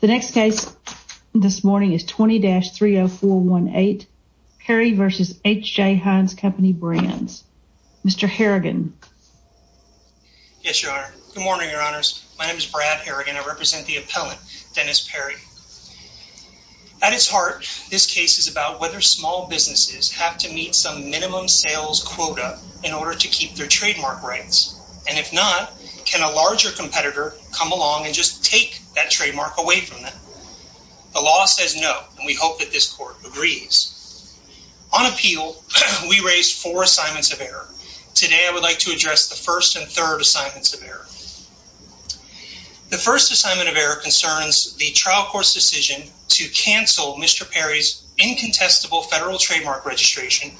The next case this morning is 20-30418, Perry v. H. J. Heinz Company Brands, Mr. Harrigan. Yes, your honor. Good morning, your honors. My name is Brad Harrigan. I represent the appellant, Dennis Perry. At its heart, this case is about whether small businesses have to meet some minimum sales quota in order to keep their trademark rights. And if not, can a larger competitor come along and just take that trademark away from them? The law says no, and we hope that this court agrees. On appeal, we raised four assignments of error. Today, I would like to address the first and third assignments of error. The first assignment of error concerns the trial court's decision to cancel Mr. Perry's incontestable federal trademark registration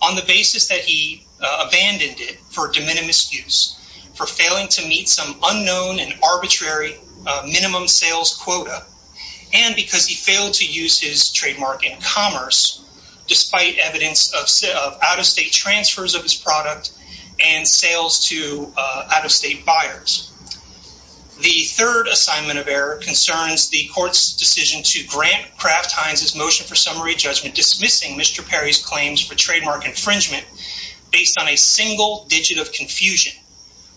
on the basis that he abandoned it for de minimis use, for failing to meet some unknown and arbitrary minimum sales quota, and because he failed to use his trademark in commerce, despite evidence of out-of-state transfers of his product and sales to out-of-state buyers. The third assignment of error concerns the court's decision to grant Kraft-Heinz's motion for summary judgment, dismissing Mr. Perry's claims for trademark infringement based on a single digit of confusion,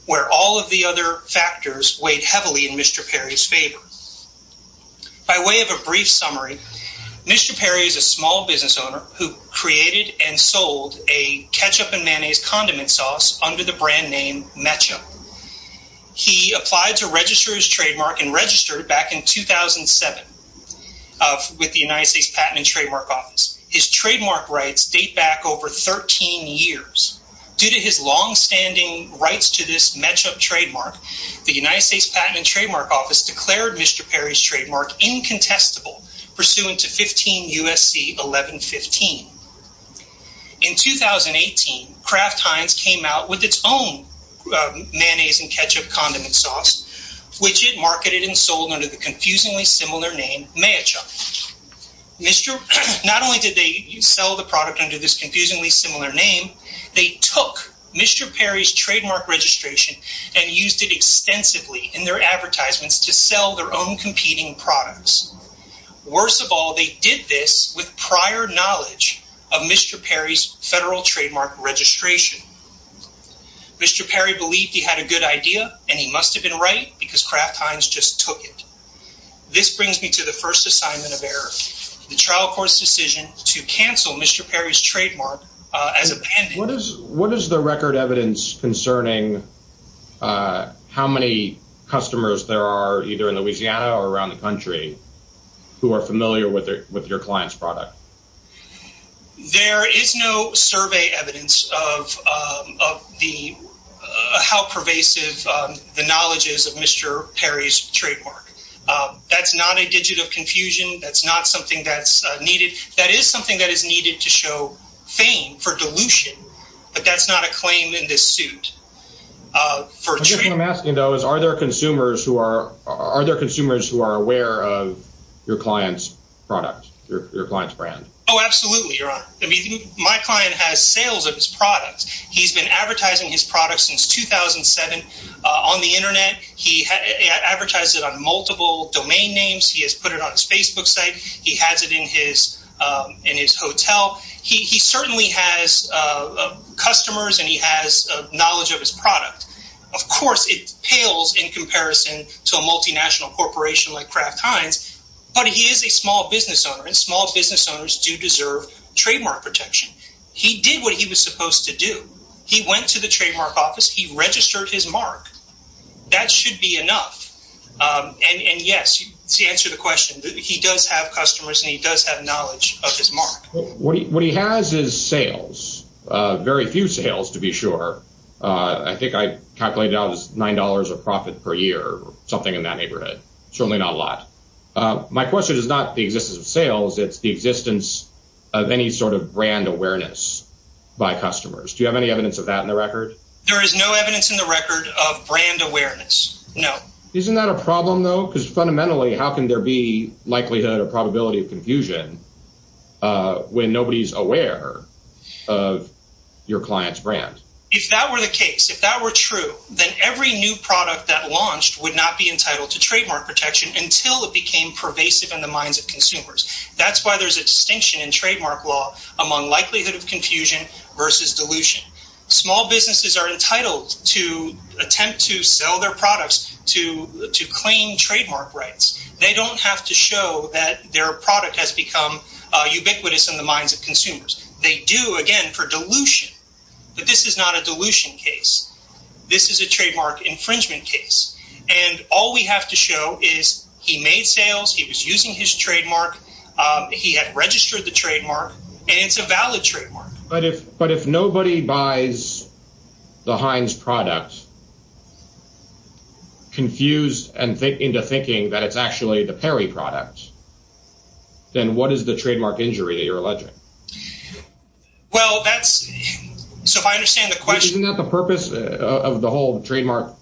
where all of the other factors weighed heavily in Mr. Perry's favor. By way of a brief summary, Mr. Perry is a small business owner who created and sold a ketchup and mayonnaise condiment sauce under the brand name Mecha. He applied to register his trademark and registered back in 2007 with the United States Patent and Trademark Office. His trademark rights date back over 13 years. Due to his longstanding rights to this Mecha trademark, the United States Patent and Trademark Office declared Mr. Perry's trademark incontestable, pursuant to 15 U.S.C. 1115. In 2018, Kraft-Heinz came out with its own mayonnaise and ketchup condiment sauce, which it marketed and sold under the confusingly similar name Mecha. Not only did they sell the product under this confusingly similar name, they took Mr. Perry's trademark registration and used it extensively in their advertisements to sell their own competing products. Worse of all, they did this with prior knowledge of Mr. Perry's federal trademark registration. Mr. Perry believed he had a good idea, and he must have been right, because Kraft-Heinz just took it. This brings me to the first assignment of error, the trial court's decision to cancel Mr. Perry's trademark as a pendant. What is the record evidence concerning how many customers there are either in Louisiana or around the country who are familiar with your client's product? There is no survey evidence of how pervasive the knowledge is of Mr. Perry's trademark. That's not a digit of confusion. That's not something that's needed. That is something that is needed to show fame for dilution, but that's not a claim in this suit. I guess what I'm asking, though, is are there consumers who are aware of your client's product, your client's brand? Oh, absolutely, Your Honor. My client has sales of his products. He's been advertising his products since 2007 on the internet. He advertises it on multiple domain names. He has put it on his Facebook site. He has it in his hotel. He certainly has customers, and he has knowledge of his product. Of course, it pales in comparison to a multinational corporation like Kraft-Heinz, but he is a small business owner, and small business owners do deserve trademark protection. He did what he was supposed to do. He went to the trademark office. He registered his mark. That should be enough, and yes, to answer the question, he does have customers, and he does have knowledge of his mark. What he has is sales, very few sales to be sure. I think I calculated it out as $9 of profit per year or something in that neighborhood, certainly not a lot. My question is not the existence of sales. It's the existence of any sort of brand awareness by customers. Do you have any evidence of that in the record? There is no evidence in the record of brand awareness. No. Isn't that a problem, though? Fundamentally, how can there be likelihood or probability of confusion when nobody is aware of your client's brand? If that were the case, if that were true, then every new product that launched would not be entitled to trademark protection until it became pervasive in the minds of consumers. That's why there's a distinction in trademark law among likelihood of confusion versus dilution. Small businesses are entitled to attempt to sell their products to claim trademark rights. They don't have to show that their product has become ubiquitous in the minds of consumers. They do, again, for dilution, but this is not a dilution case. This is a trademark infringement case, and all we have to show is he made sales, he was using his trademark, he had registered the trademark, and it's a valid trademark. But if nobody buys the Heinz product confused into thinking that it's actually the Perry product, then what is the trademark injury that you're alleging? Well, that's – so if I understand the question – Isn't that the purpose of the whole trademark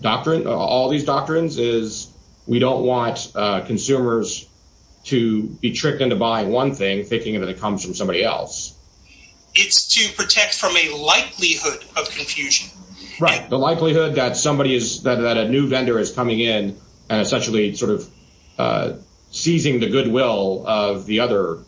doctrine, all these doctrines, is we don't want consumers to be tricked into buying one thing thinking that it comes from somebody else. It's to protect from a likelihood of confusion. Right, the likelihood that somebody is – that a new vendor is coming in and essentially sort of seizing the goodwill of the other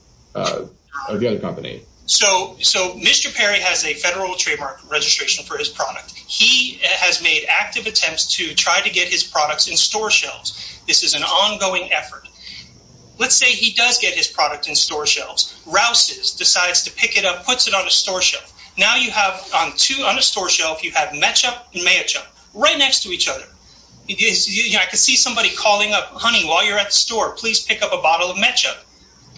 company. So Mr. Perry has a federal trademark registration for his product. He has made active attempts to try to get his products in store shelves. This is an ongoing effort. Let's say he does get his product in store shelves, rouses, decides to pick it up, puts it on a store shelf. Now you have on a store shelf, you have matchup and matchup right next to each other. I could see somebody calling up, honey, while you're at the store, please pick up a bottle of matchup.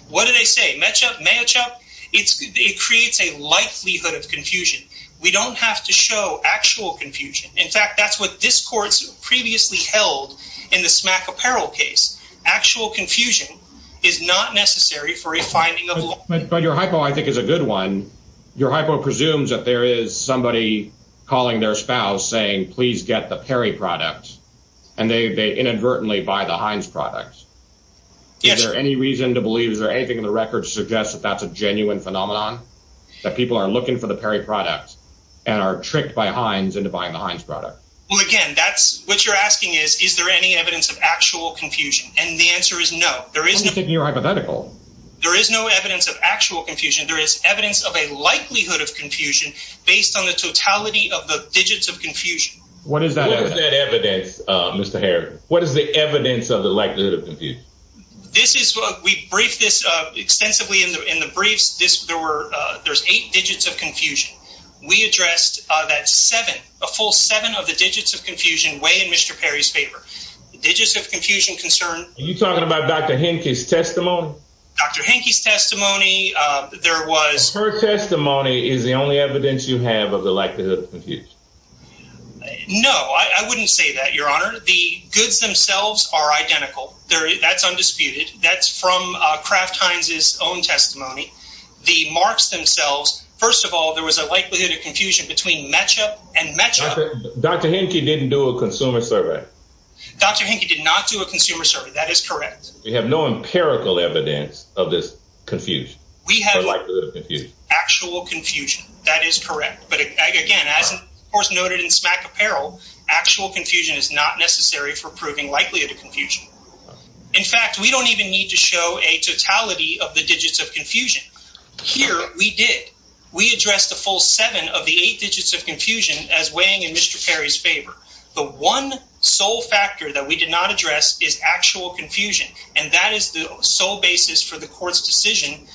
What do they say, matchup, matchup? It creates a likelihood of confusion. We don't have to show actual confusion. In fact, that's what this court previously held in the Smack Apparel case. Actual confusion is not necessary for a finding of – But your hypo I think is a good one. Your hypo presumes that there is somebody calling their spouse saying please get the Perry product and they inadvertently buy the Heinz product. Yes. Is there any reason to believe, is there anything in the record to suggest that that's a genuine phenomenon? That people are looking for the Perry product and are tricked by Heinz into buying the Heinz product. Well, again, that's – what you're asking is, is there any evidence of actual confusion? And the answer is no. You're hypothetical. There is no evidence of actual confusion. There is evidence of a likelihood of confusion based on the totality of the digits of confusion. What is that evidence, Mr. Harris? What is the evidence of the likelihood of confusion? This is – we briefed this extensively in the briefs. There's eight digits of confusion. We addressed that seven, a full seven of the digits of confusion weigh in Mr. Perry's favor. The digits of confusion concern – Are you talking about Dr. Henke's testimony? Dr. Henke's testimony, there was – Her testimony is the only evidence you have of the likelihood of confusion. No, I wouldn't say that, Your Honor. The goods themselves are identical. That's undisputed. That's from Kraft Heinz's own testimony. The marks themselves – first of all, there was a likelihood of confusion between match-up and match-up. Dr. Henke didn't do a consumer survey. Dr. Henke did not do a consumer survey. That is correct. We have no empirical evidence of this confusion, the likelihood of confusion. We have actual confusion. That is correct. But again, as of course noted in Smack Apparel, actual confusion is not necessary for proving likelihood of confusion. In fact, we don't even need to show a totality of the digits of confusion. Here, we did. We addressed a full seven of the eight digits of confusion as weighing in Mr. Perry's favor. The one sole factor that we did not address is actual confusion, and that is the sole basis for the court's decision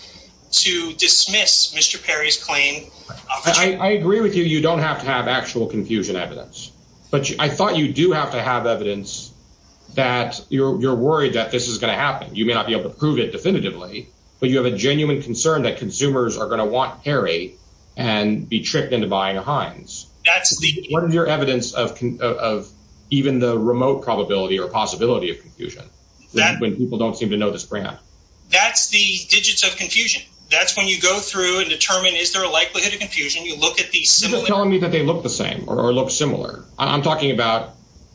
to dismiss Mr. Perry's claim. I agree with you. You don't have to have actual confusion evidence. But I thought you do have to have evidence that you're worried that this is going to happen. You may not be able to prove it definitively, but you have a genuine concern that consumers are going to want Perry and be tricked into buying a Heinz. What is your evidence of even the remote probability or possibility of confusion when people don't seem to know this brand? That's the digits of confusion. That's when you go through and determine is there a likelihood of confusion. You're telling me that they look the same or look similar. I'm talking about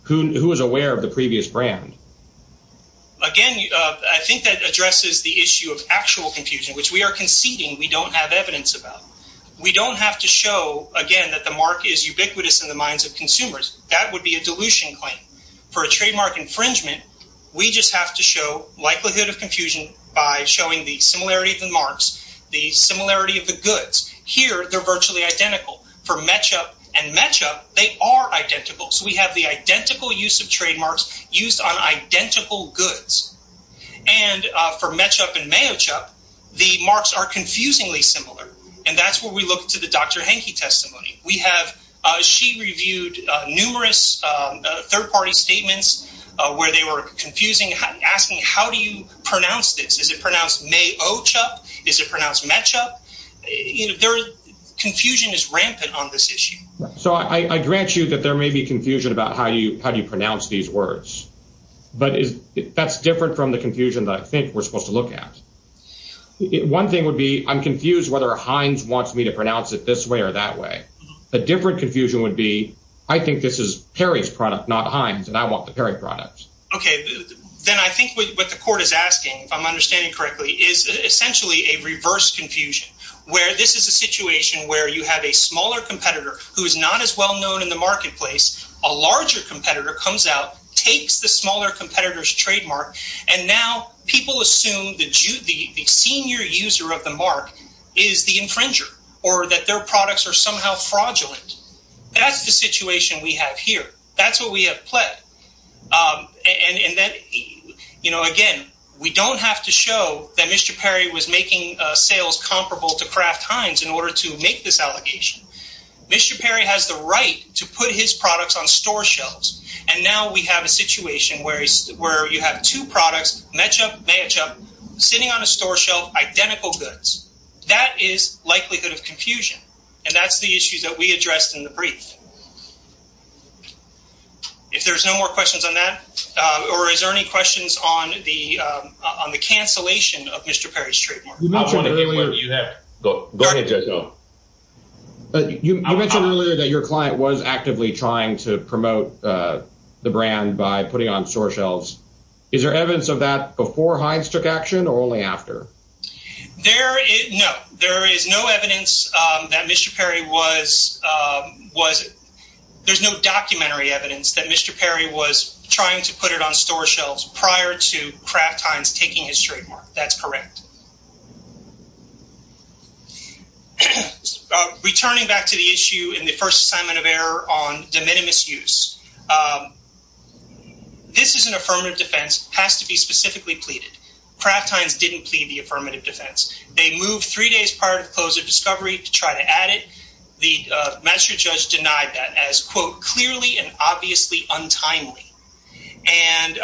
who is aware of the previous brand. Again, I think that addresses the issue of actual confusion, which we are conceding we don't have evidence about. We don't have to show, again, that the mark is ubiquitous in the minds of consumers. That would be a dilution claim. For a trademark infringement, we just have to show likelihood of confusion by showing the similarity of the marks, the similarity of the goods. Here, they're virtually identical. For Metchup and Metchup, they are identical. We have the identical use of trademarks used on identical goods. For Metchup and Mayochup, the marks are confusingly similar. That's where we look to the Dr. Hanke testimony. She reviewed numerous third-party statements where they were asking, how do you pronounce this? Is it pronounced Mayochup? Is it pronounced Metchup? Confusion is rampant on this issue. I grant you that there may be confusion about how you pronounce these words. That's different from the confusion that I think we're supposed to look at. One thing would be, I'm confused whether Heinz wants me to pronounce it this way or that way. A different confusion would be, I think this is Perry's product, not Heinz, and I want the Perry product. Then I think what the court is asking, if I'm understanding correctly, is essentially a reverse confusion. This is a situation where you have a smaller competitor who is not as well-known in the marketplace. A larger competitor comes out, takes the smaller competitor's trademark, and now people assume the senior user of the mark is the infringer. Or that their products are somehow fraudulent. That's the situation we have here. That's what we have pled. Again, we don't have to show that Mr. Perry was making sales comparable to Kraft Heinz in order to make this allegation. Mr. Perry has the right to put his products on store shelves, and now we have a situation where you have two products, Metchup, Mayochup, sitting on a store shelf, identical goods. That is likelihood of confusion, and that's the issue that we addressed in the brief. If there's no more questions on that, or is there any questions on the cancellation of Mr. Perry's trademark? You mentioned earlier that your client was actively trying to promote the brand by putting on store shelves. Is there evidence of that before Heinz took action, or only after? No, there is no documentary evidence that Mr. Perry was trying to put it on store shelves prior to Kraft Heinz taking his trademark. That's correct. Returning back to the issue in the first assignment of error on de minimis use, this is an affirmative defense. It has to be specifically pleaded. Kraft Heinz didn't plead the affirmative defense. They moved three days prior to the close of discovery to try to add it. The magistrate judge denied that as, quote, clearly and obviously untimely. And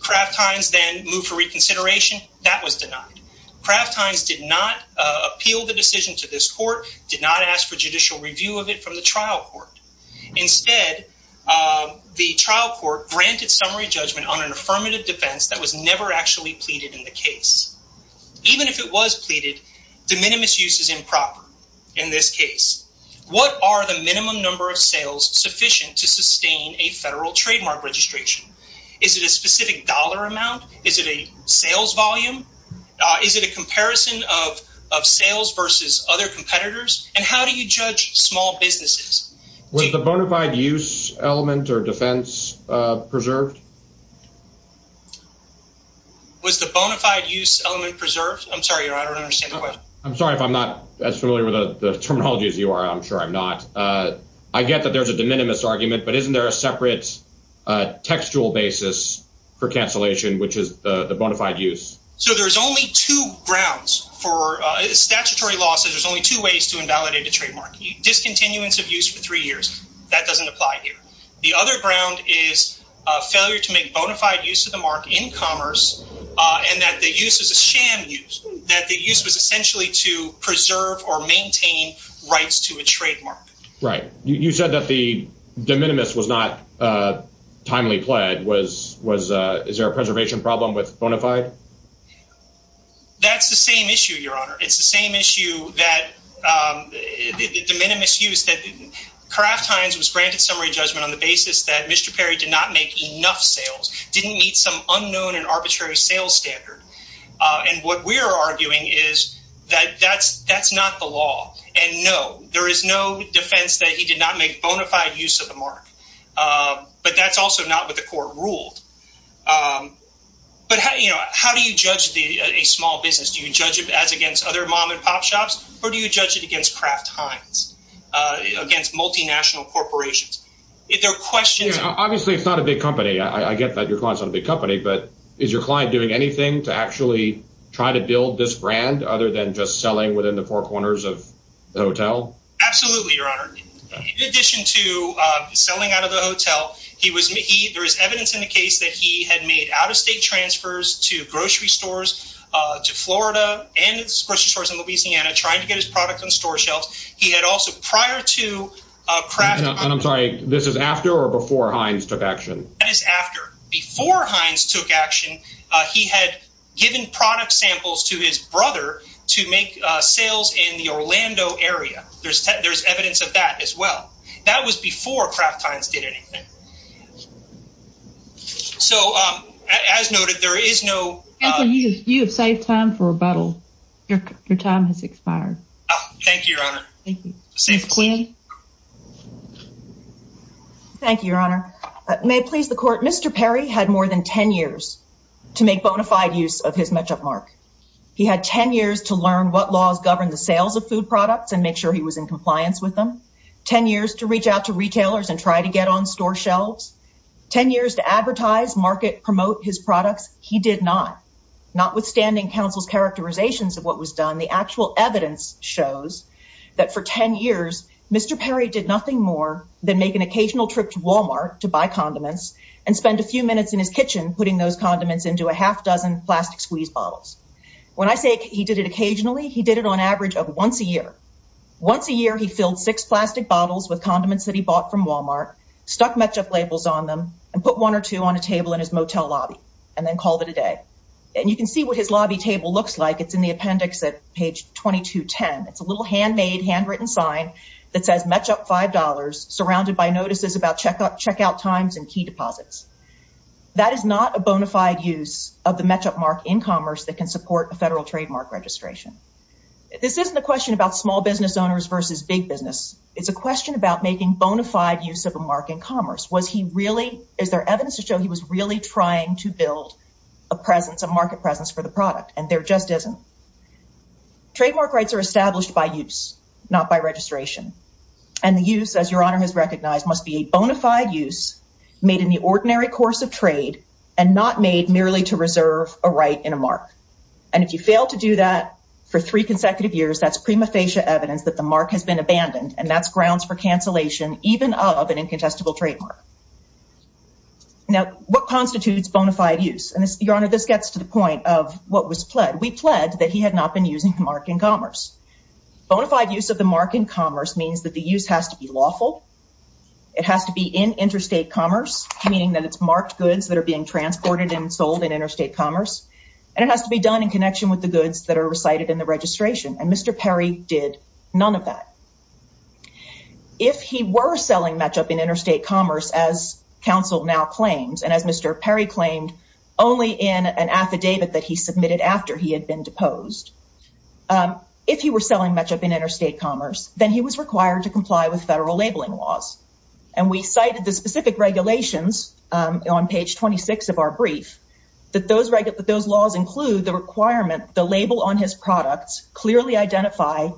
Kraft Heinz then moved for reconsideration. That was denied. Kraft Heinz did not appeal the decision to this court, did not ask for judicial review of it from the trial court. Instead, the trial court granted summary judgment on an affirmative defense that was never actually pleaded in the case. Even if it was pleaded, de minimis use is improper in this case. What are the minimum number of sales sufficient to sustain a federal trademark registration? Is it a specific dollar amount? Is it a sales volume? Is it a comparison of sales versus other competitors? And how do you judge small businesses? Was the bona fide use element or defense preserved? Was the bona fide use element preserved? I'm sorry, I don't understand the question. I'm sorry if I'm not as familiar with the terminology as you are. I'm sure I'm not. I get that there's a de minimis argument, but isn't there a separate textual basis for cancellation, which is the bona fide use? So there's only two grounds for statutory losses. There's only two ways to invalidate a trademark. Discontinuance of use for three years. That doesn't apply here. The other ground is failure to make bona fide use of the mark in commerce and that the use is a sham use. That the use was essentially to preserve or maintain rights to a trademark. Right. You said that the de minimis was not timely pled. Is there a preservation problem with bona fide? That's the same issue, Your Honor. It's the same issue that the de minimis use that Kraft Heinz was granted summary judgment on the basis that Mr. Perry did not make enough sales, didn't meet some unknown and arbitrary sales standard. And what we're arguing is that that's that's not the law. And no, there is no defense that he did not make bona fide use of the mark. But that's also not what the court ruled. But how do you judge a small business? Do you judge it as against other mom and pop shops or do you judge it against Kraft Heinz? Against multinational corporations? Obviously, it's not a big company. I get that your client's not a big company, but is your client doing anything to actually try to build this brand other than just selling within the four corners of the hotel? Absolutely, Your Honor. In addition to selling out of the hotel, he was he there is evidence in the case that he had made out of state transfers to grocery stores to Florida and grocery stores in Louisiana trying to get his product on store shelves. He had also prior to Kraft. And I'm sorry, this is after or before Heinz took action? That is after. Before Heinz took action, he had given product samples to his brother to make sales in the Orlando area. There's there's evidence of that as well. That was before Kraft Heinz did anything. So, as noted, there is no. You have saved time for rebuttal. Your time has expired. Thank you, Your Honor. Safe clean. Thank you, Your Honor. May it please the court. Mr. Perry had more than 10 years to make bona fide use of his matchup mark. He had 10 years to learn what laws govern the sales of food products and make sure he was in compliance with them. 10 years to reach out to retailers and try to get on store shelves. 10 years to advertise, market, promote his products. He did not. Notwithstanding counsel's characterizations of what was done, the actual evidence shows that for 10 years, Mr. Perry did nothing more than make an occasional trip to Walmart to buy condiments and spend a few minutes in his kitchen putting those condiments into a half dozen plastic squeeze bottles. When I say he did it occasionally, he did it on average of once a year. Once a year, he filled six plastic bottles with condiments that he bought from Walmart, stuck matchup labels on them and put one or two on a table in his motel lobby and then called it a day. And you can see what his lobby table looks like. It's in the appendix at page 2210. It's a little handmade, handwritten sign that says matchup $5, surrounded by notices about checkout times and key deposits. That is not a bona fide use of the matchup mark in commerce that can support a federal trademark registration. This isn't a question about small business owners versus big business. It's a question about making bona fide use of a mark in commerce. Is there evidence to show he was really trying to build a presence, a market presence for the product? And there just isn't. Trademark rights are established by use, not by registration. And the use, as Your Honor has recognized, must be a bona fide use made in the ordinary course of trade and not made merely to reserve a right in a mark. And if you fail to do that for three consecutive years, that's prima facie evidence that the mark has been abandoned. And that's grounds for cancellation, even of an incontestable trademark. Now, what constitutes bona fide use? And Your Honor, this gets to the point of what was pled. We pled that he had not been using the mark in commerce. Bona fide use of the mark in commerce means that the use has to be lawful. It has to be in interstate commerce, meaning that it's marked goods that are being transported and sold in interstate commerce. And it has to be done in connection with the goods that are recited in the registration. And Mr. Perry did none of that. If he were selling matchup in interstate commerce, as counsel now claims, and as Mr. Perry claimed, only in an affidavit that he submitted after he had been deposed. If he were selling matchup in interstate commerce, then he was required to comply with federal labeling laws. And we cited the specific regulations on page 26 of our brief, that those laws include the requirement the label on his products clearly identify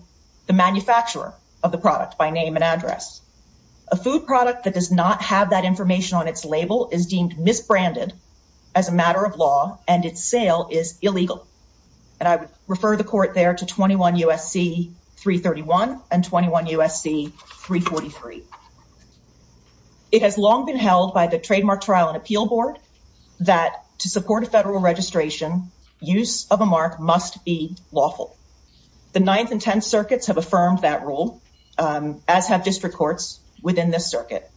the manufacturer of the product. By name and address. A food product that does not have that information on its label is deemed misbranded as a matter of law and its sale is illegal. And I would refer the court there to 21 U.S.C. 331 and 21 U.S.C. 343. It has long been held by the Trademark Trial and Appeal Board that to support a federal registration, use of a mark must be lawful. The Ninth and Tenth Circuits have affirmed that rule, as have district courts within this circuit.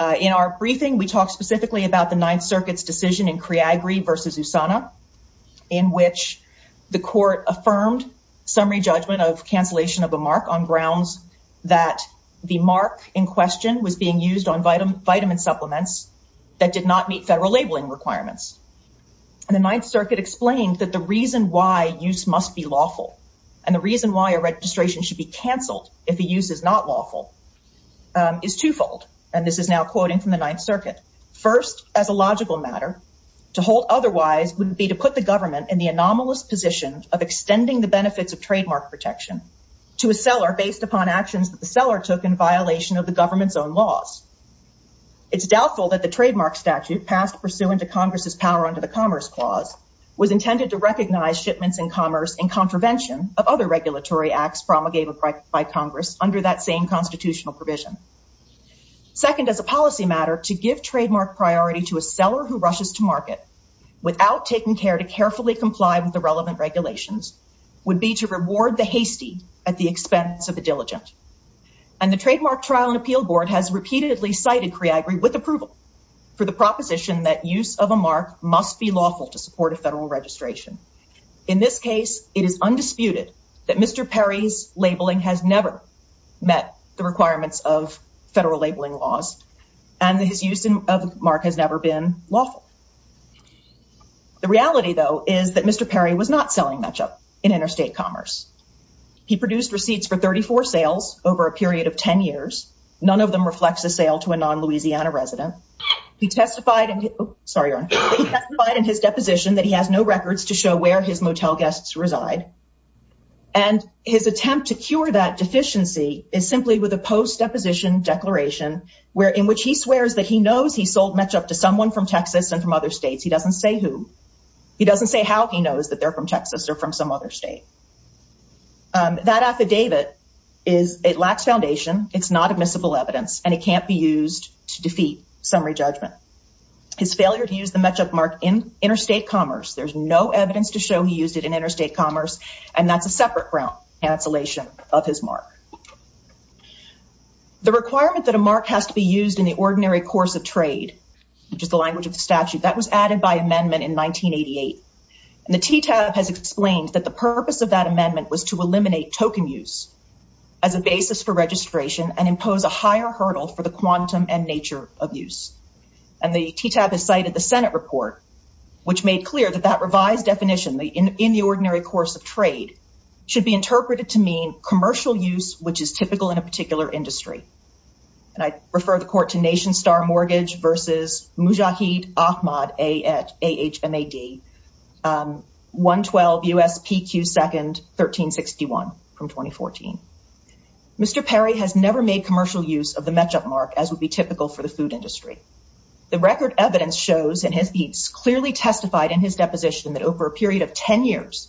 In our briefing, we talk specifically about the Ninth Circuit's decision in Criagri v. Usana, in which the court affirmed summary judgment of cancellation of a mark on grounds that the mark in question was being used on vitamin supplements that did not meet federal labeling requirements. And the Ninth Circuit explained that the reason why use must be lawful and the reason why a registration should be canceled if the use is not lawful is twofold. And this is now quoting from the Ninth Circuit. First, as a logical matter, to hold otherwise would be to put the government in the anomalous position of extending the benefits of trademark protection to a seller based upon actions that the seller took in violation of the government's own laws. It's doubtful that the trademark statute passed pursuant to Congress's power under the Commerce Clause was intended to recognize shipments in commerce in contravention of other regulatory acts promulgated by Congress under that same constitutional provision. Second, as a policy matter, to give trademark priority to a seller who rushes to market without taking care to carefully comply with the relevant regulations would be to reward the hasty at the expense of the diligent. And the Trademark Trial and Appeal Board has repeatedly cited CREAGRI with approval for the proposition that use of a mark must be lawful to support a federal registration. In this case, it is undisputed that Mr. Perry's labeling has never met the requirements of federal labeling laws and that his use of a mark has never been lawful. The reality, though, is that Mr. Perry was not selling matchup in interstate commerce. He produced receipts for 34 sales over a period of 10 years. None of them reflects a sale to a non-Louisiana resident. He testified in his deposition that he has no records to show where his motel guests reside. And his attempt to cure that deficiency is simply with a post-deposition declaration in which he swears that he knows he sold matchup to someone from Texas and from other states. He doesn't say who. He doesn't say how he knows that they're from Texas or from some other state. That affidavit lacks foundation. It's not admissible evidence and it can't be used to defeat summary judgment. His failure to use the matchup mark in interstate commerce, there's no evidence to show he used it in interstate commerce and that's a separate cancellation of his mark. The requirement that a mark has to be used in the ordinary course of trade, which is the language of the statute, that was added by amendment in 1988. And the TTAB has explained that the purpose of that amendment was to eliminate token use as a basis for registration and impose a higher hurdle for the quantum and nature of use. And the TTAB has cited the Senate report, which made clear that that revised definition, in the ordinary course of trade, should be interpreted to mean commercial use, which is typical in a particular industry. And I refer the court to Nation Star Mortgage versus Mujahid Ahmad, A-H-M-A-D, 112 USPQ 2nd, 1361, from 2014. Mr. Perry has never made commercial use of the matchup mark, as would be typical for the food industry. The record evidence shows, and he's clearly testified in his deposition, that over a period of 10 years,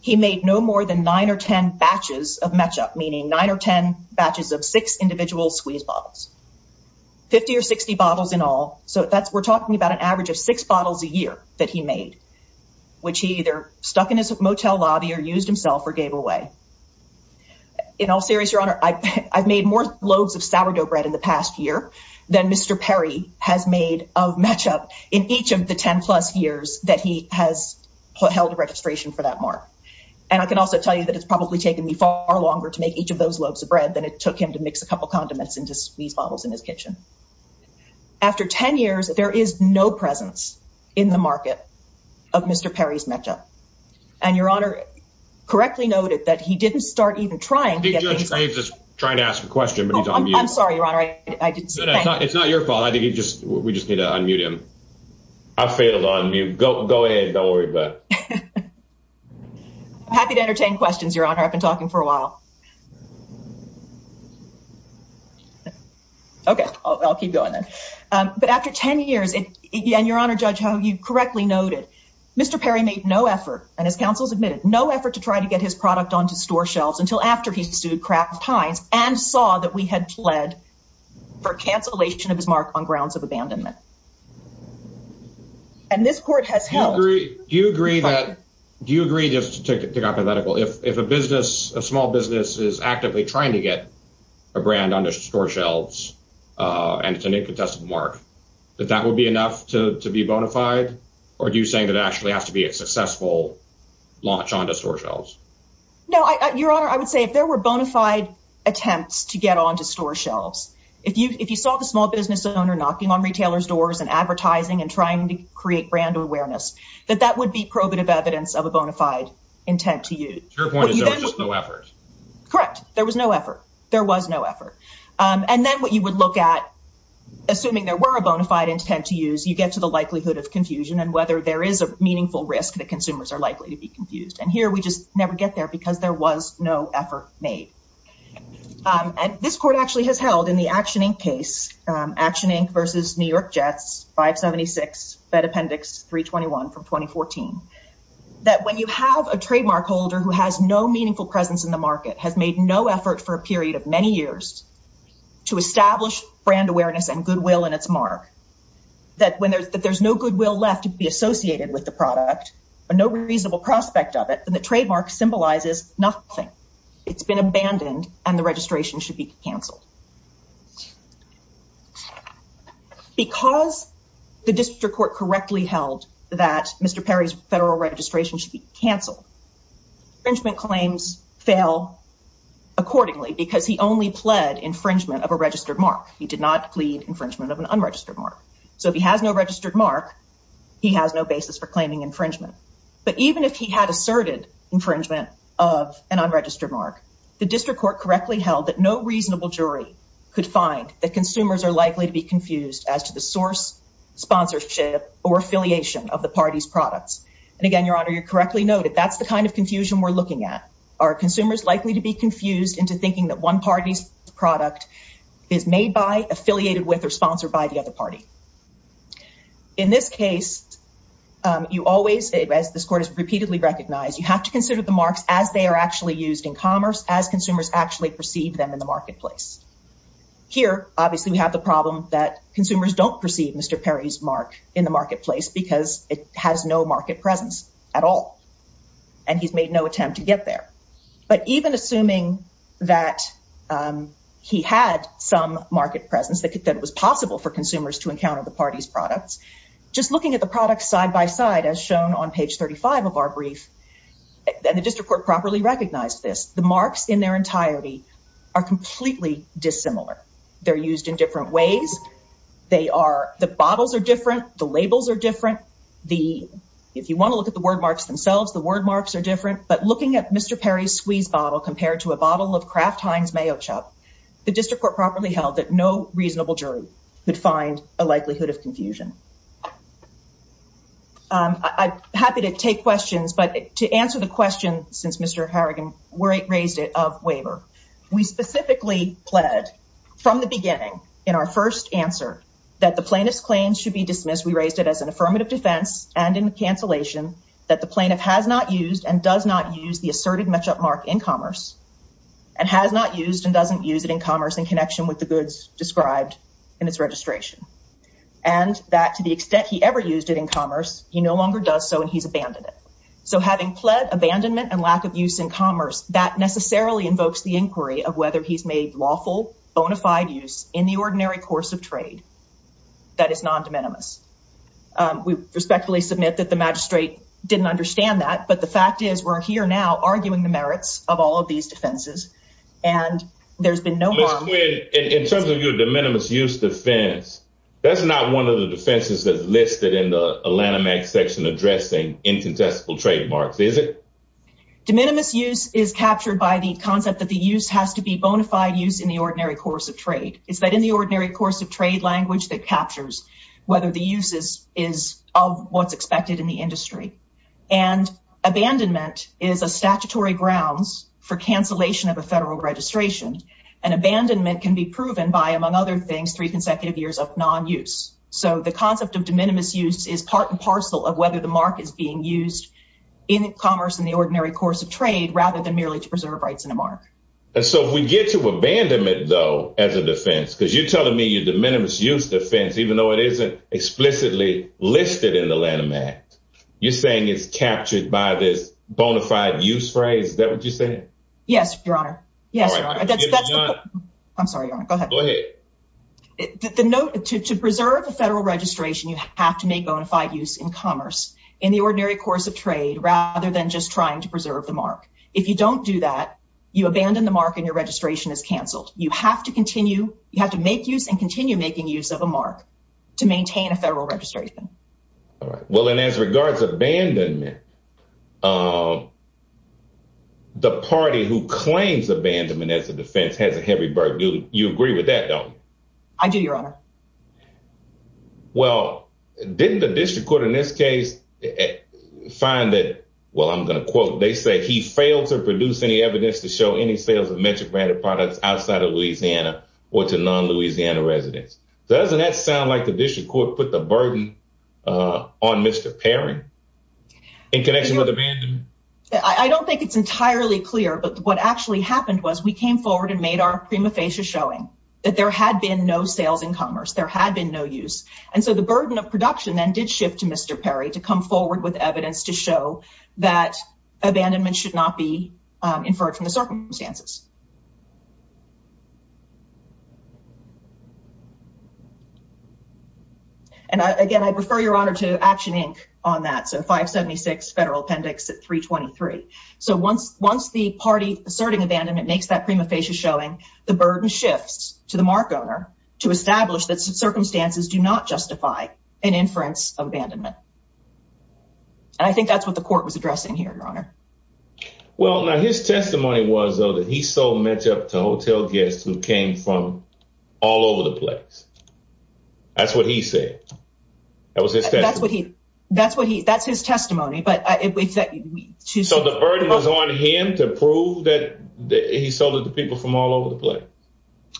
he made no more than nine or 10 batches of matchup, meaning nine or 10 batches of six individual squeeze bottles, 50 or 60 bottles in all. So we're talking about an average of six bottles a year that he made, which he either stuck in his motel lobby or used himself or gave away. In all seriousness, Your Honor, I've made more loaves of sourdough bread in the past year than Mr. Perry has made of matchup in each of the 10 plus years that he has held a registration for that mark. And I can also tell you that it's probably taken me far longer to make each of those loaves of bread than it took him to mix a couple of condiments into squeeze bottles in his kitchen. After 10 years, there is no presence in the market of Mr. Perry's matchup. And Your Honor, correctly noted that he didn't start even trying to get... I think Judge Graves is trying to ask a question, but he's on mute. I'm sorry, Your Honor. It's not your fault. I think we just need to unmute him. I failed on mute. Go ahead. Don't worry about it. I'm happy to entertain questions, Your Honor. I've been talking for a while. Okay, I'll keep going then. But after 10 years, and Your Honor, Judge Ho, you correctly noted, Mr. Perry made no effort, and his counsel has admitted, no effort to try to get his product onto store shelves until after he sued Kraft Heinz and saw that we had pled for cancellation of his mark on grounds of abandonment. And this court has held... Do you agree that... Do you agree, just to take it hypothetical, if a business, a small business is actively trying to get a brand onto store shelves and it's a new contested mark, that that would be enough to be bona fide? Or are you saying that it actually has to be a successful launch onto store shelves? No, Your Honor, I would say if there were bona fide attempts to get onto store shelves, if you saw the small business owner knocking on retailers' doors and advertising and trying to create brand awareness, that that would be probative evidence of a bona fide intent to use. Your point is there was just no effort. Correct. There was no effort. There was no effort. And then what you would look at, assuming there were a bona fide intent to use, you get to the likelihood of confusion and whether there is a meaningful risk that consumers are likely to be confused. And here we just never get there because there was no effort made. And this court actually has held in the Action, Inc. case, Action, Inc. v. New York Jets, 576, Fed Appendix 321 from 2014, that when you have a trademark holder who has no meaningful presence in the market, has made no effort for a period of many years to establish brand awareness and goodwill in its mark, but no reasonable prospect of it, then the trademark symbolizes nothing. It's been abandoned and the registration should be canceled. Because the district court correctly held that Mr. Perry's federal registration should be canceled, infringement claims fail accordingly because he only pled infringement of a registered mark. He did not plead infringement of an unregistered mark. So if he has no registered mark, he has no basis for claiming infringement. But even if he had asserted infringement of an unregistered mark, the district court correctly held that no reasonable jury could find that consumers are likely to be confused as to the source, sponsorship, or affiliation of the party's products. And again, Your Honor, you correctly noted, that's the kind of confusion we're looking at. Are consumers likely to be confused into thinking that one party's product is made by, affiliated with, or sponsored by the other party? In this case, you always, as this court has repeatedly recognized, you have to consider the marks as they are actually used in commerce, as consumers actually perceive them in the marketplace. Here, obviously, we have the problem that consumers don't perceive Mr. Perry's mark in the marketplace because it has no market presence at all. And he's made no attempt to get there. But even assuming that he had some market presence, that it was possible for consumers to encounter the party's products, just looking at the products side by side, as shown on page 35 of our brief, and the district court properly recognized this, the marks in their entirety are completely dissimilar. They're used in different ways. The bottles are different. The labels are different. If you want to look at the word marks themselves, the word marks are different. But looking at Mr. Perry's squeeze bottle, compared to a bottle of Kraft Heinz mayo chop, the district court properly held that no reasonable jury could find a likelihood of confusion. I'm happy to take questions, but to answer the question, since Mr. Harrigan raised it, of waiver. We specifically pled, from the beginning, in our first answer, that the plaintiff's claim should be dismissed. We raised it as an affirmative defense and in cancellation that the plaintiff has not used and does not use the asserted match-up mark in commerce and has not used and doesn't use it in commerce in connection with the goods described in its registration. And that to the extent he ever used it in commerce, he no longer does so and he's abandoned it. So having pled abandonment and lack of use in commerce, that necessarily invokes the inquiry of whether he's made lawful, bona fide use in the ordinary course of trade that is non-de minimis. We respectfully submit that the magistrate didn't understand that, but the fact is we're here now arguing the merits of all of these defenses and there's been no harm. Ms. Quinn, in terms of your de minimis use defense, that's not one of the defenses that's listed in the Alanamax section addressing incontestable trademarks, is it? De minimis use is captured by the concept that the use has to be bona fide use in the ordinary course of trade. It's that in the ordinary course of trade language that captures whether the use is of what's expected in the industry. And abandonment is a statutory grounds for cancellation of a federal registration. And abandonment can be proven by, among other things, three consecutive years of non-use. So the concept of de minimis use is part and parcel of whether the mark is being used in commerce in the ordinary course of trade rather than merely to preserve rights in a mark. And so if we get to abandonment, though, as a defense, because you're telling me your de minimis use defense, even though it isn't explicitly listed in the Lanham Act, you're saying it's captured by this bona fide use phrase? Yes, Your Honor. I'm sorry, Your Honor. Go ahead. To preserve the federal registration, you have to make bona fide use in commerce in the ordinary course of trade rather than just trying to preserve the mark. If you don't do that, you abandon the mark and your registration is canceled. You have to continue, you have to make use and continue making use of a mark to maintain a federal registration. All right. Well, and as regards abandonment, the party who claims abandonment as a defense has a heavy burden. You agree with that, don't you? I do, Your Honor. Well, didn't the district court in this case find that, well, I'm going to quote, they say he failed to produce any evidence to show any sales of metric branded products outside of Louisiana or to non-Louisiana residents. Doesn't that sound like the district court put the burden on Mr. Perry? I don't think it's entirely clear, but what actually happened was we came forward and made our prima facie showing that there had been no sales in commerce. There had been no use. And so the burden of production then did shift to Mr. Perry to come forward with evidence to show that abandonment should not be inferred from the circumstances. And again, I'd refer Your Honor to Action, Inc. on that, so 576 Federal Appendix at 323. So once the party asserting abandonment makes that prima facie showing, the burden shifts to the mark owner to establish that circumstances do not justify an inference of abandonment. And I think that's what the court was addressing here, Your Honor. Well, now his testimony was, though, that he sold Metchup to hotel guests who came from all over the place. That's what he said. That was his testimony. So the burden was on him to prove that he sold it to people from all over the place?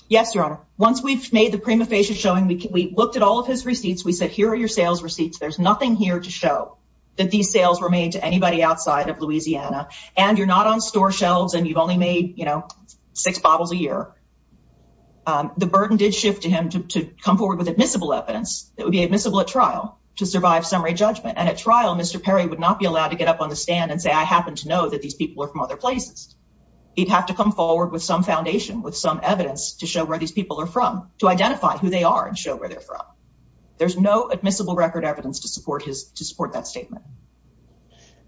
Yes, Your Honor. Once we've made the prima facie showing, we looked at all of his receipts. We said, here are your sales receipts. There's nothing here to show that these sales were made to anybody outside of Louisiana, and you're not on store shelves, and you've only made six bottles a year. The burden did shift to him to come forward with admissible evidence that would be admissible at trial to survive and at trial, Mr. Perry would not be allowed to get up on the stand and say, I happen to know that these people are from other places. He'd have to come forward with some foundation, with some evidence to show where these people are from, to identify who they are and show where they're from. There's no admissible record evidence to support that statement.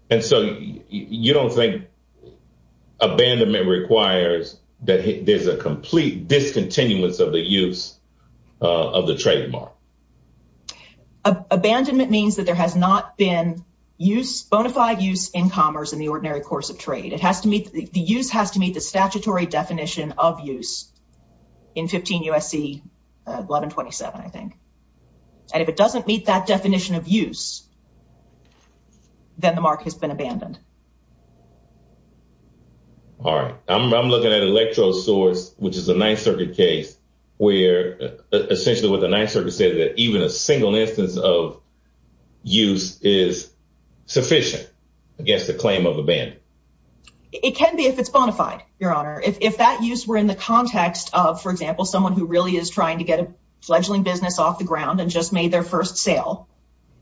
And so you don't think abandonment requires that there's a complete discontinuance of the use of the trademark? There has been use, bona fide use in commerce in the ordinary course of trade. It has to meet, the use has to meet the statutory definition of use in 15 U.S.C. 1127, I think. And if it doesn't meet that definition of use, then the mark has been abandoned. All right. I'm looking at electro source, which is a Ninth Circuit case, where essentially what the Ninth Circuit said that even a single instance of use is sufficient against the claim of abandonment. It can be if it's bona fide, your honor. If that use were in the context of, for example, someone who really is trying to get a fledgling business off the ground and just made their first sale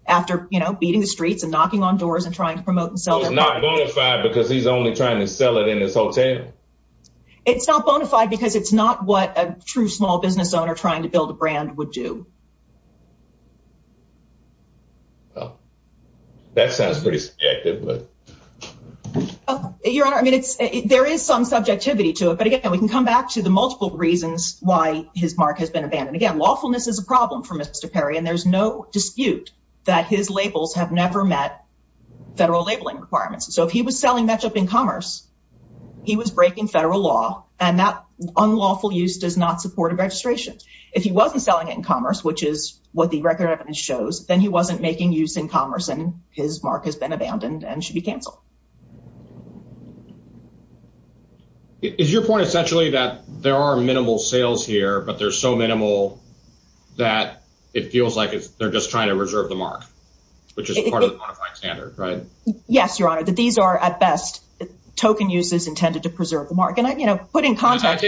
after, you know, beating the streets and knocking on doors and trying to promote and sell it. It's not bona fide because he's only trying to sell it in his hotel? It's not bona fide because it's not what a true small business would do. That sounds pretty subjective. Your honor, I mean, there is some subjectivity to it. But again, we can come back to the multiple reasons why his mark has been abandoned. Again, lawfulness is a problem for Mr. Perry, and there's no dispute that his labels have never met federal labeling requirements. So if he was selling matchup in commerce, he was breaking federal law, and that unlawful use does not support a true small business. Again, his mark has been abandoned and should be canceled. Is your point essentially that there are minimal sales here, but they're so minimal that it feels like they're just trying to reserve the mark, which is part of the bona fide standard, right? Yes, your honor, that these are, at best, token uses intended to preserve the mark. I take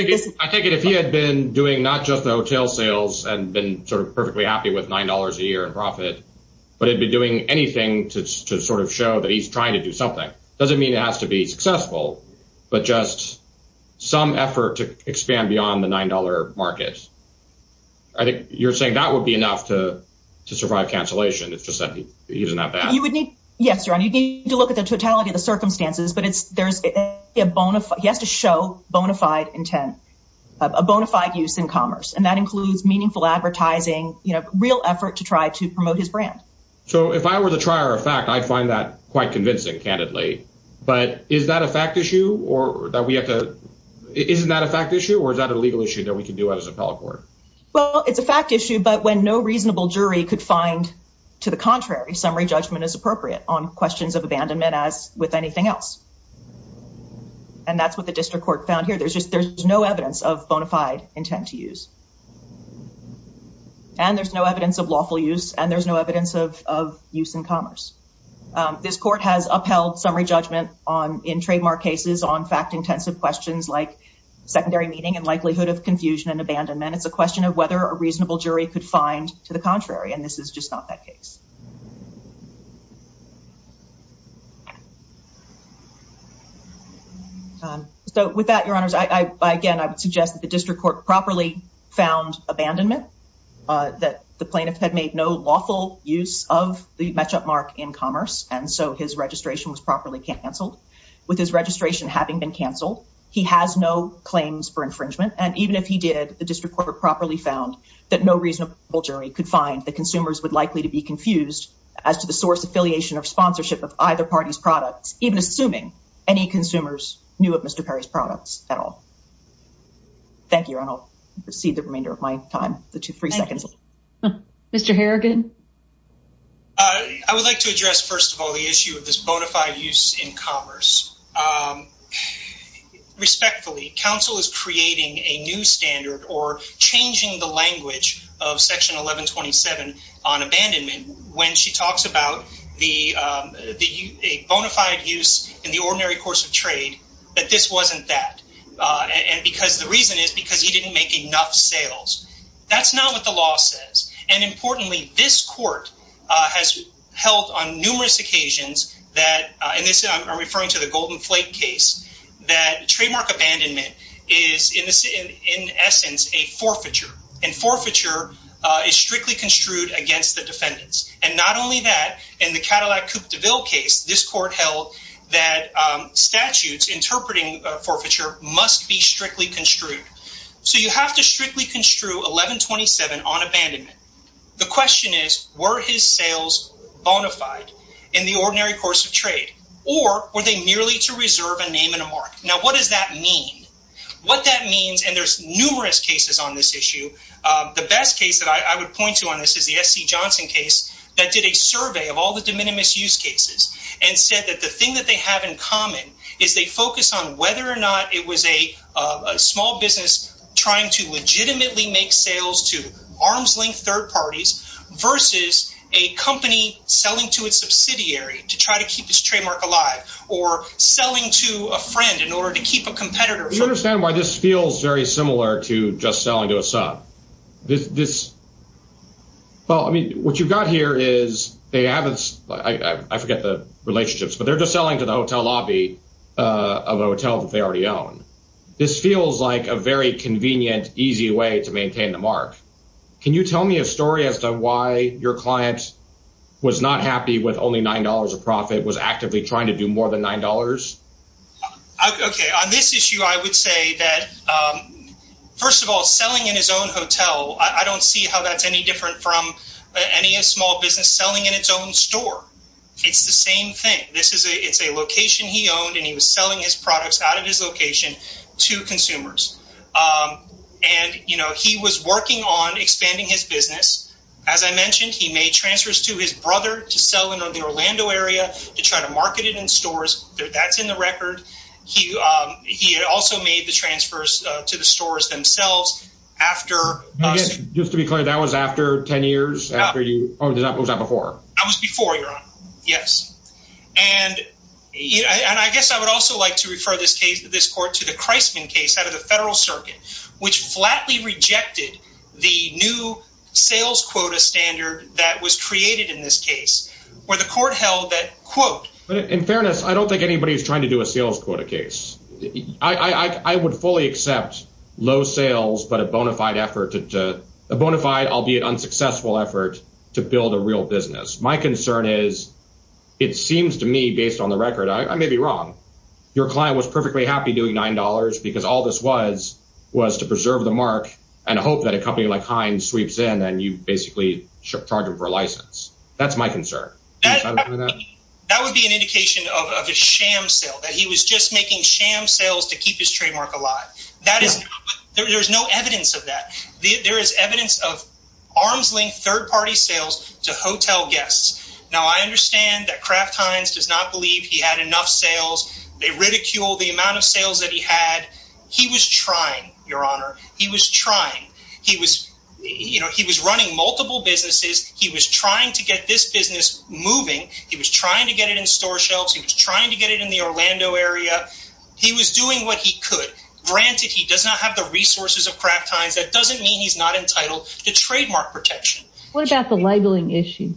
it if he had been doing not just the hotel sales and the hotel marketing to sort of show that he's trying to do something, doesn't mean it has to be successful, but just some effort to expand beyond the $9 market. I think you're saying that would be enough to survive cancellation. It's just that he isn't that bad. Yes, your honor, you need to look at the totality of the circumstances, but he has to show bona fide intent, a bona fide use in commerce, and that includes meaningful advertising, real effort to try to promote his brand. I find that quite convincing, candidly. But is that a fact issue? Isn't that a fact issue, or is that a legal issue that we can do as an appellate court? Well, it's a fact issue, but when no reasonable jury could find, to the contrary, summary judgment as appropriate on questions of abandonment as with anything else. And that's what the district court found here. There's no evidence of bona fide intent to use. And there's no evidence of lawful use, and there's no evidence of reasonable judgment. This court has upheld summary judgment in trademark cases on fact-intensive questions like secondary meeting and likelihood of confusion and abandonment. It's a question of whether a reasonable jury could find, to the contrary, and this is just not that case. So with that, your honors, again, I would suggest that the district court properly found abandonment, that the plaintiff had made no lawful use of the match-up mark in commerce. And so his registration was properly canceled. With his registration having been canceled, he has no claims for infringement, and even if he did, the district court properly found that no reasonable jury could find that consumers would likely to be confused as to the source affiliation or sponsorship of either party's products, even assuming any consumers knew of Mr. Perry's products at all. Thank you, Your Honor. I'll recede the remainder of my time to three seconds. Mr. Harrigan? First of all, the issue of this bona fide use in commerce. Respectfully, counsel is creating a new standard or changing the language of section 1127 on abandonment when she talks about the bona fide use in the ordinary course of trade, that this wasn't that. And because the reason is because he didn't make enough sales. That's not what the law says. And importantly, this court has held on numerous occasions that, and this I'm referring to the Golden Flake case, that trademark abandonment is in essence a forfeiture. And forfeiture is strictly construed against the defendants. And not only that, in the Cadillac Coupe de Ville case, this court held that statutes interpreting forfeiture must be strictly construed. So you have to strictly construe 1127 on abandonment. The question is, were his sales bona fide? In the ordinary course of trade, or were they merely to reserve a name and a mark? Now, what does that mean? What that means? And there's numerous cases on this issue. The best case that I would point to on this is the SC Johnson case that did a survey of all the de minimis use cases and said that the thing that they have in common is they focus on whether or not it was a small business trying to legitimately make sales to arm's length third parties versus a company or a subsidiary to try to keep its trademark alive or selling to a friend in order to keep a competitor. You understand why this feels very similar to just selling to a sub? Well, I mean, what you've got here is they haven't, I forget the relationships, but they're just selling to the hotel lobby of a hotel that they already own. This feels like a very convenient, easy way to maintain the mark. Can you tell me a story as to why your client was not happy that only nine dollars a profit was actively trying to do more than nine dollars? OK, on this issue, I would say that, first of all, selling in his own hotel, I don't see how that's any different from any small business selling in its own store. It's the same thing. This is a it's a location he owned and he was selling his products out of his location to consumers. And, you know, he was working on expanding his business. As I mentioned, he made transfers to his brother to sell in the Orlando area to try to market it in stores. That's in the record. He he also made the transfers to the stores themselves after. Just to be clear, that was after 10 years after you. I was before. Yes. And I guess I would also like to refer this case to this court to the Christman case out of the federal circuit, which flatly rejected the new sales quota standard that was created by the court held that quote. But in fairness, I don't think anybody is trying to do a sales quota case. I would fully accept low sales, but a bonafide effort to bonafide, albeit unsuccessful effort to build a real business. My concern is it seems to me, based on the record, I may be wrong. Your client was perfectly happy doing nine dollars because all this was was to preserve the mark and hope that a company like Heinz sweeps in and you basically charge him for a sale. That would be an indication of a sham sale that he was just making sham sales to keep his trademark alive. That is there. There's no evidence of that. There is evidence of arm's length, third party sales to hotel guests. Now, I understand that Kraft Heinz does not believe he had enough sales. They ridicule the amount of sales that he had. He was trying to get it in store shelves. He was trying to get it in the Orlando area. He was doing what he could. Granted, he does not have the resources of Kraft Heinz. That doesn't mean he's not entitled to trademark protection. What about the labeling issue?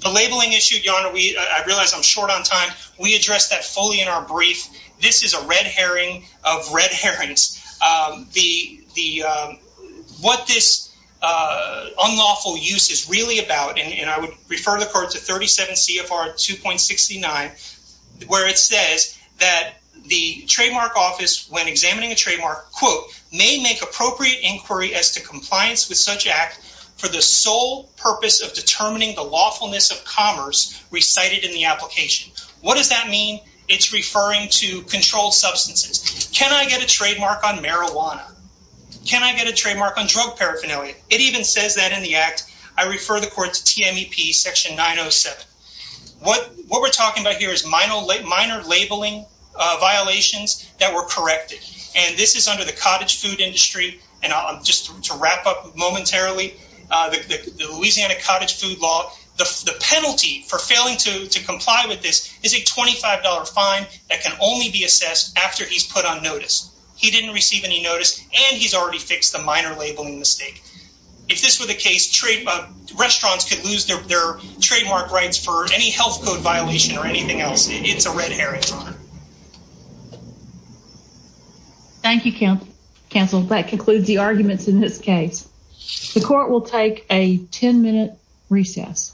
The labeling issue? I realize I'm short on time. We address that fully in our brief. This is a red herring of red herrings. Here is a paragraph in CFR 2.69 where it says that the trademark office when examining a trademark quote, may make appropriate inquiry as to compliance with such act for the sole purpose of determining the lawfulness of commerce recited in the application. What does that mean? It's referring to controlled substances. Can I get a trademark on marijuana? Can I get a trademark on drug paraphernalia? It even says that in the act I refer the court to what we're talking about here is minor labeling violations that were corrected. And this is under the cottage food industry, and just to wrap up momentarily, the Louisiana cottage food law, the penalty for failing to comply with this is a $25 fine that can only be assessed after he's put on notice. He didn't receive any notice and he's already fixed the minor labeling mistake. If this were the case, restaurants could lose a health code violation or anything else. It's a red herring, Your Honor. Thank you, counsel. That concludes the arguments in this case. The court will take a 10-minute recess.